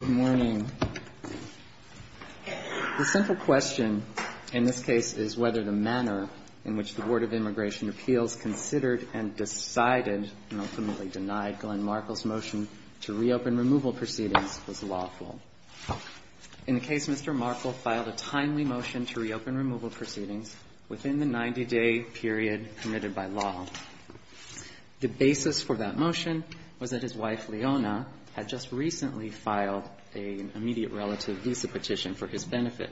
Good morning. The simple question in this case is whether the manner in which the Board of Immigration Appeals considered and decided and ultimately denied Glenn Markle's motion to reopen removal proceedings was lawful. In the case, Mr. Markle filed a timely motion to reopen removal proceedings within the 90 day period committed by law. The basis for that motion was that his wife, Leona, had just recently filed an immediate relative visa petition for his benefit.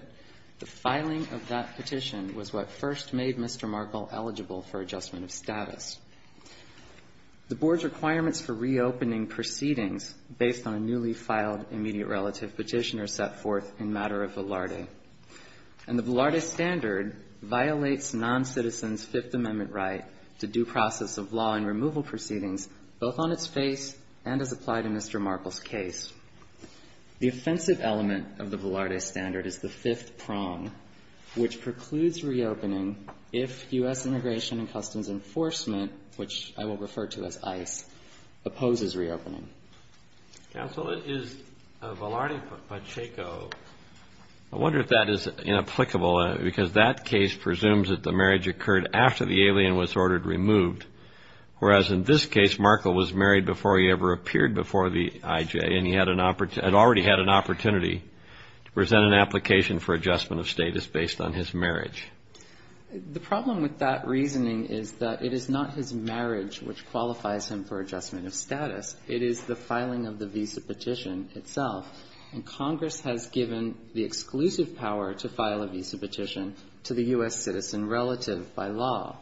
The filing of that petition was what first made Mr. Markle eligible for adjustment of status. The Board's requirements for reopening proceedings based on a newly filed immediate relative petition are set forth in matter of velarde. And the velarde standard violates noncitizens' Fifth Amendment right to due process of law and removal proceedings, both on its face and as applied in Mr. Markle's case. The offensive element of the velarde standard is the fifth prong, which precludes reopening if U.S. Immigration and Customs Enforcement, which I will refer to as ICE, opposes reopening. Counsel, it is a velarde by Chaco. I wonder if that is inapplicable, because that case presumes that the marriage occurred after the alien was ordered removed. Whereas in this case, Markle was married before he ever appeared before the IJ, and he had an opportunity to present an application for adjustment of status based on his marriage. The problem with that reasoning is that it is not his marriage which qualifies him for adjustment of status. It is the filing of the visa petition itself. And Congress has given the exclusive power to file a visa petition to the U.S. citizen relative by law.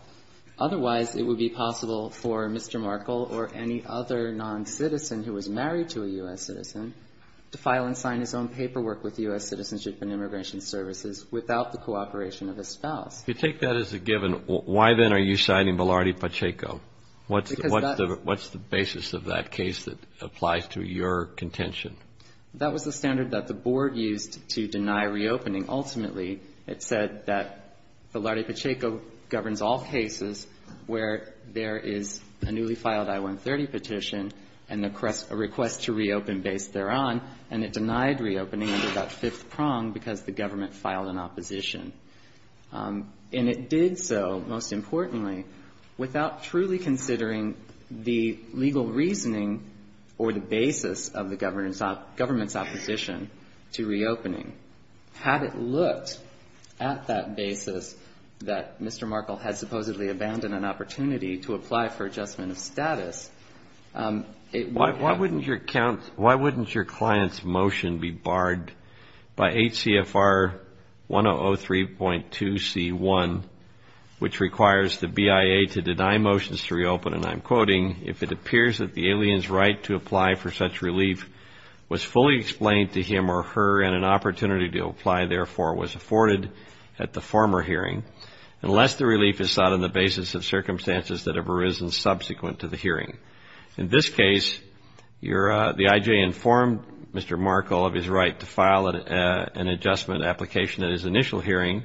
Otherwise, it would be possible for Mr. Markle or any other noncitizen who was married to a U.S. citizen to file and sign his own paperwork with U.S. Citizenship and Immigration Services without the cooperation of a spouse. If you take that as a given, why then are you citing velarde by Chaco? What's the basis of that case that applies to your contention? That was the standard that the Board used to deny reopening. Ultimately, it said that velarde by Chaco governs all cases where there is a newly filed I-130 petition and a request to reopen based thereon. And it denied reopening under that fifth prong because the government filed an opposition. And it did so, most importantly, without truly considering the legal reasoning or the basis of the government's opposition to reopening. Had it looked at that basis that Mr. Markle had supposedly abandoned an opportunity to apply for adjustment of status, it would have been by HCFR 1003.2C1, which requires the BIA to deny motions to reopen, and I'm quoting, if it appears that the alien's right to apply for such relief was fully explained to him or her and an opportunity to apply, therefore, was afforded at the former hearing, unless the relief is sought on the basis of circumstances that have arisen subsequent to the hearing. In this case, the I.J. informed Mr. Markle of his right to file an adjustment application at his initial hearing.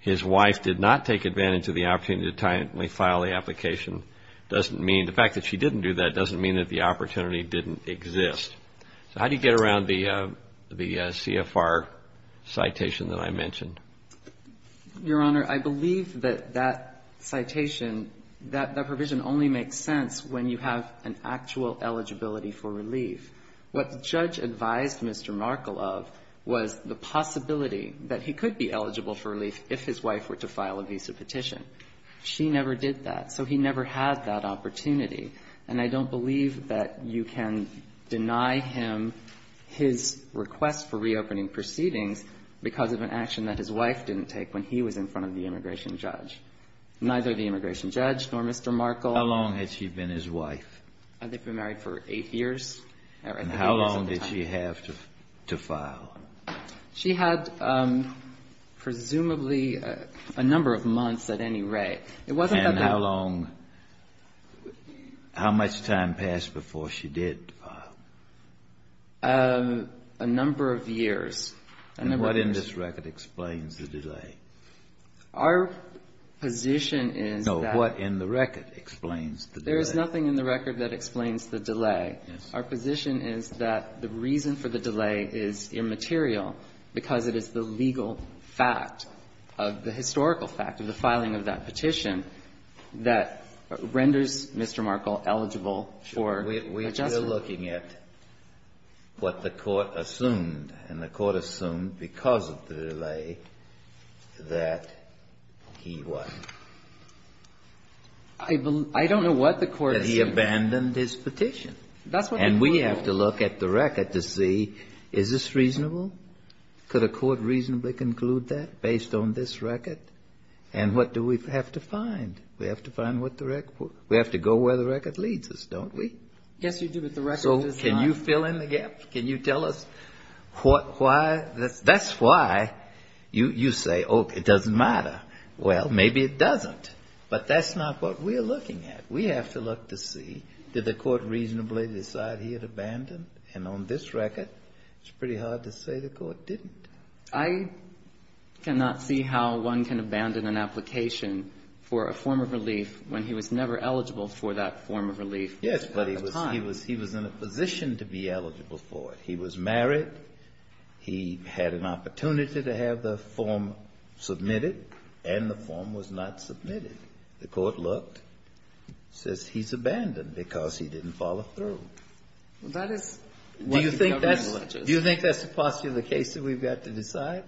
His wife did not take advantage of the opportunity to timely file the application. The fact that she didn't do that doesn't mean that the opportunity didn't exist. So how do you get around the CFR citation that I mentioned? Your Honor, I believe that that citation, that provision only makes sense when you have an actual eligibility for relief. What the judge advised Mr. Markle of was the possibility that he could be eligible for relief if his wife were to file a visa petition. She never did that, so he never had that opportunity, and I don't believe that you can deny him his request for reopening proceedings because of an action that his wife didn't take when he was in front of the immigration judge, neither the immigration judge nor Mr. Markle. How long had she been his wife? They've been married for eight years. And how long did she have to file? She had presumably a number of months at any rate. It wasn't that long. And how long, how much time passed before she did file? A number of years. And what in this record explains the delay? Our position is that no. What in the record explains the delay? There is nothing in the record that explains the delay. Yes. Our position is that the reason for the delay is immaterial because it is the legal fact, the historical fact of the filing of that petition that renders Mr. Markle eligible for adjustment. We are looking at what the court assumed, and the court assumed because of the delay that he what? I don't know what the court assumed. That he abandoned his petition. And we have to look at the record to see is this reasonable? Could a court reasonably conclude that based on this record? And what do we have to find? We have to find what the record, we have to go where the record leads us, don't we? Yes, you do. But the record does not. So can you fill in the gap? Can you tell us what, why? That's why you say, oh, it doesn't matter. Well, maybe it doesn't. But that's not what we're looking at. We have to look to see did the court reasonably decide he had abandoned? And on this record, it's pretty hard to say the court didn't. I cannot see how one can abandon an application for a form of relief when he was never eligible for that form of relief. Yes, but he was in a position to be eligible for it. He was married. He had an opportunity to have the form submitted, and the form was not submitted. The court looked, says he's abandoned because he didn't follow through. Well, that is what the government alleges. Do you think that's the posture of the case that we've got to decide?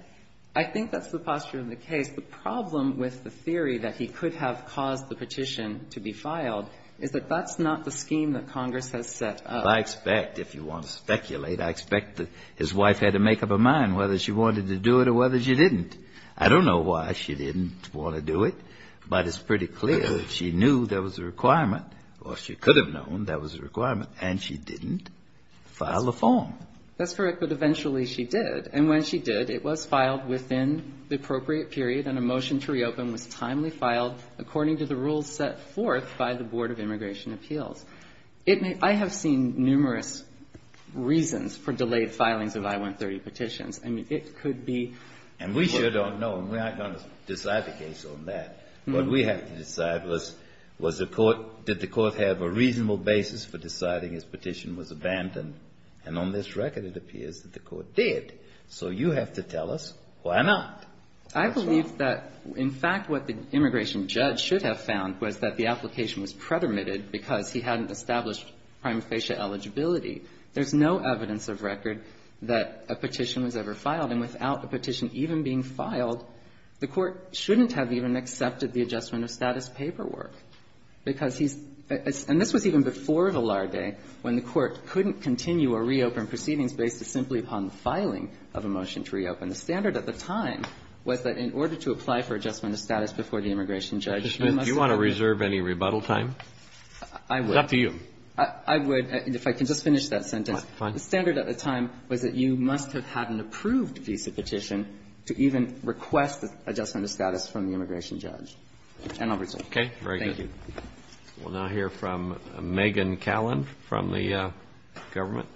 I think that's the posture of the case. The problem with the theory that he could have caused the petition to be filed is that that's not the scheme that Congress has set up. I expect, if you want to speculate, I expect that his wife had to make up her mind whether she wanted to do it or whether she didn't. I don't know why she didn't want to do it, but it's pretty clear that she knew there was a requirement, or she could have known there was a requirement, and she didn't file a form. That's correct, but eventually she did. And when she did, it was filed within the appropriate period, and a motion to reopen was timely filed according to the rules set forth by the Board of Immigration Appeals. I have seen numerous reasons for delayed filings of I-130 petitions. I mean, it could be the court's fault. And we sure don't know, and we aren't going to decide the case on that. What we have to decide was, was the court, did the court have a reasonable basis for deciding his petition was abandoned? And on this record, it appears that the court did. So you have to tell us why not. That's why. I believe that, in fact, what the immigration judge should have found was that the application was pretermitted because he hadn't established prime facia eligibility. There's no evidence of record that a petition was ever filed, and without a petition even being filed, the court shouldn't have even accepted the adjustment of status paperwork, because he's – and this was even before Vilar Day, when the court couldn't continue or reopen proceedings based simply upon the filing of a motion to reopen. The standard at the time was that in order to apply for adjustment of status before the immigration judge, you must have had an approved visa petition. Do you want to reserve any rebuttal time? I would. It's up to you. I would. If I can just finish that sentence. Fine. The standard at the time was that you must have had an approved visa petition to even request adjustment of status from the immigration judge. And I'll resume. Very good. Thank you. We'll now hear from Megan Callan from the government.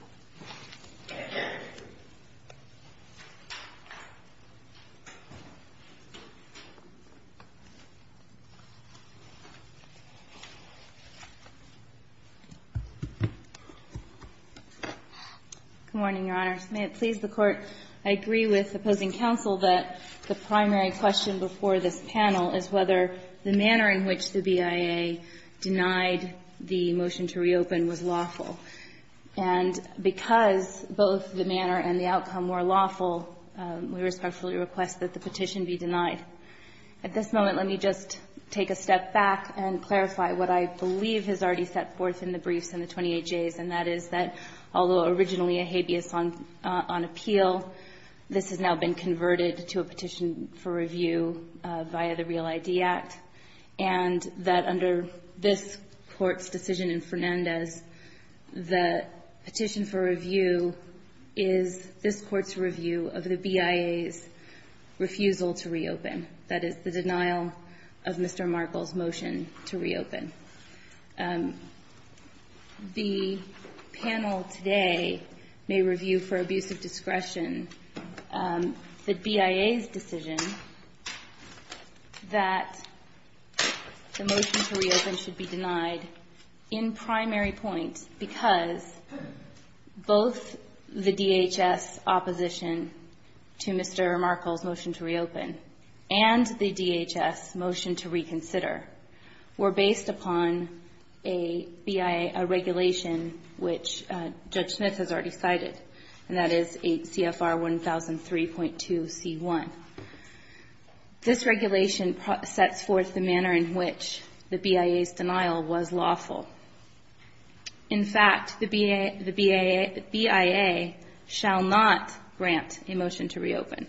Good morning, Your Honor. May it please the Court. I agree with opposing counsel that the primary question before this panel is whether the manner in which the BIA denied the motion to reopen was lawful. And because both the manner and the outcome were lawful, we respectfully request that the petition be denied. At this moment, let me just take a step back and clarify what I believe is already set forth in the briefs in the 28Js, and that is that although originally a habeas on appeal, this has now been converted to a petition for review via the Real ID Act. And that under this Court's decision in Fernandez, the petition for review is this Court's review of the BIA's refusal to reopen. That is, the denial of Mr. Markle's motion to reopen. The panel today may review for abuse of discretion the BIA's decision that the motion to reopen should be denied in primary point because both the DHS opposition to Mr. Markle's motion to reopen and the DHS motion to reconsider were based upon a BIA regulation which Judge Smith has already cited, and that is CFR 1003.2C1. This regulation sets forth the manner in which the BIA's denial was lawful. In fact, the BIA shall not grant a motion to reopen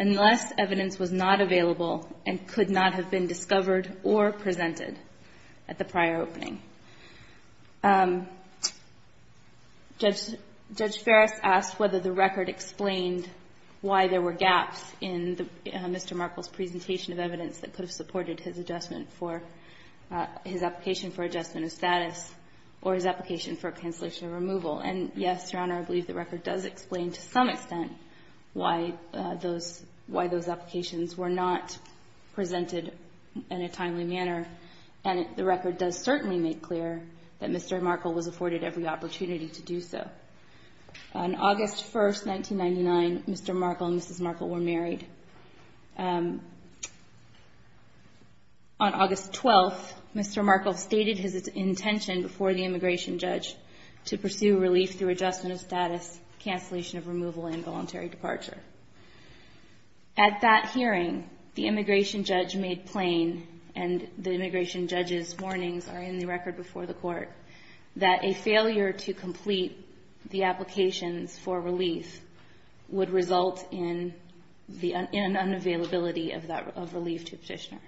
unless evidence was not available and could not have been discovered or presented at the prior opening. Judge Ferris asked whether the record explained why there were gaps in Mr. Markle's presentation of evidence that could have supported his adjustment for his application for adjustment of status or his application for cancellation of removal. And yes, Your Honor, I believe the record does explain to some extent why those applications were not presented in a timely manner, and the record does certainly make clear that Mr. Markle was afforded every opportunity to do so. On August 1st, 1999, Mr. Markle and Mrs. Markle were married. On August 12th, Mr. Markle stated his intention before the immigration judge to pursue relief through adjustment of status, cancellation of removal, and voluntary departure. At that hearing, the immigration judge made plain, and the immigration judge's warnings are in the record before the Court, that a failure to complete the applications for relief would result in the unavailability of that relief to a petitioner,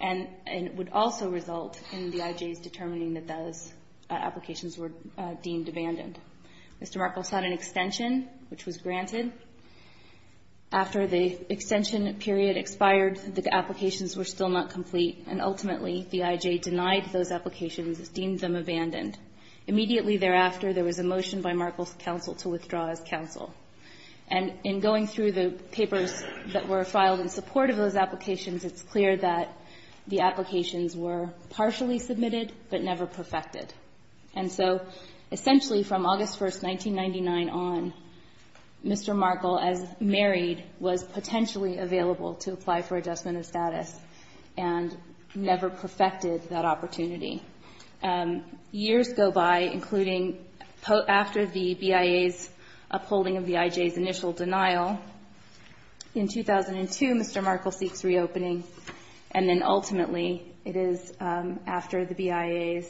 and it would also result in the IJs determining that those applications were deemed abandoned. Mr. Markle sought an extension, which was granted. After the extension period expired, the applications were still not complete, and ultimately the IJ denied those applications, deemed them abandoned. Immediately thereafter, there was a motion by Markle's counsel to withdraw his counsel. And in going through the papers that were filed in support of those applications, it's clear that the applications were partially submitted but never perfected. And so essentially from August 1st, 1999 on, Mr. Markle, as married, was potentially available to apply for adjustment of status and never perfected that opportunity. Years go by, including after the BIA's upholding of the IJ's initial denial. In 2002, Mr. Markle seeks reopening, and then ultimately it is after the BIA's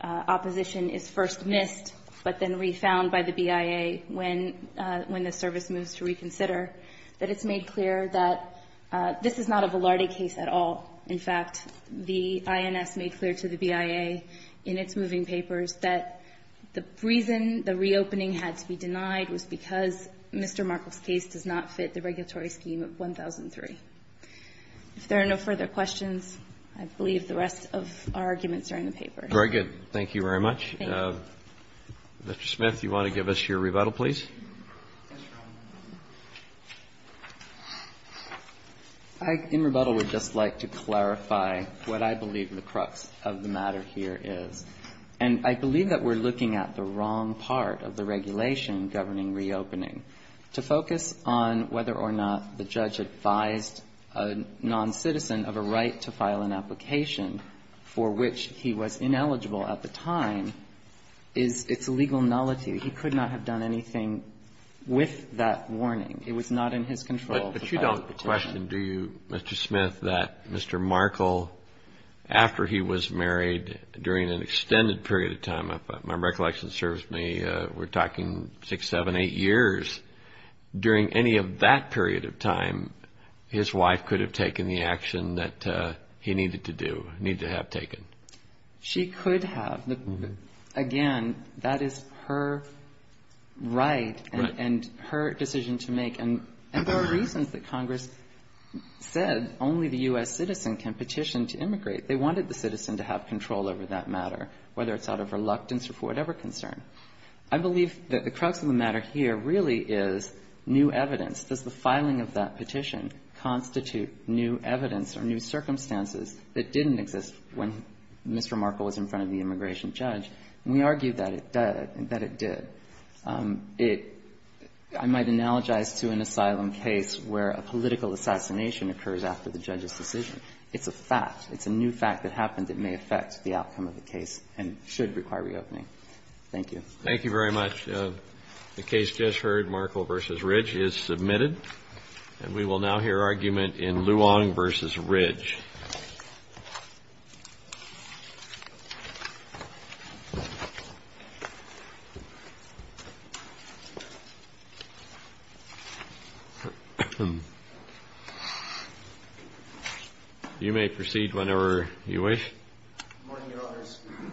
opposition is first missed but then refound by the BIA when the service moves to reconsider that it's made clear that this is not a Velarde case at all. In fact, the INS made clear to the BIA in its moving papers that the reason the reopening had to be denied was because Mr. Markle's case does not fit the regulatory scheme of 1003. If there are no further questions, I believe the rest of our arguments are in the record. Thank you very much. Thank you. Mr. Smith, do you want to give us your rebuttal, please? I, in rebuttal, would just like to clarify what I believe the crux of the matter here is. And I believe that we're looking at the wrong part of the regulation governing reopening, to focus on whether or not the judge advised a noncitizen of a right to file an application for which he was ineligible at the time. It's a legal nullity. He could not have done anything with that warning. It was not in his control. But you don't question, do you, Mr. Smith, that Mr. Markle, after he was married during an extended period of time, if my recollection serves me, we're talking 6, 7, 8 years. During any of that period of time, his wife could have taken the action that he needed to do, needed to have taken. She could have. Again, that is her right and her decision to make. And there are reasons that Congress said only the U.S. citizen can petition to immigrate. They wanted the citizen to have control over that matter, whether it's out of reluctance or for whatever concern. I believe that the crux of the matter here really is new evidence. Does the filing of that petition constitute new evidence or new circumstances that didn't exist when Mr. Markle was in front of the immigration judge? And we argue that it did. I might analogize to an asylum case where a political assassination occurs after the judge's decision. It's a fact. It's a new fact that happened that may affect the outcome of the case and should require reopening. Thank you. Thank you very much. The case just heard, Markle v. Ridge, is submitted. And we will now hear argument in Luong v. Ridge. You may proceed whenever you wish.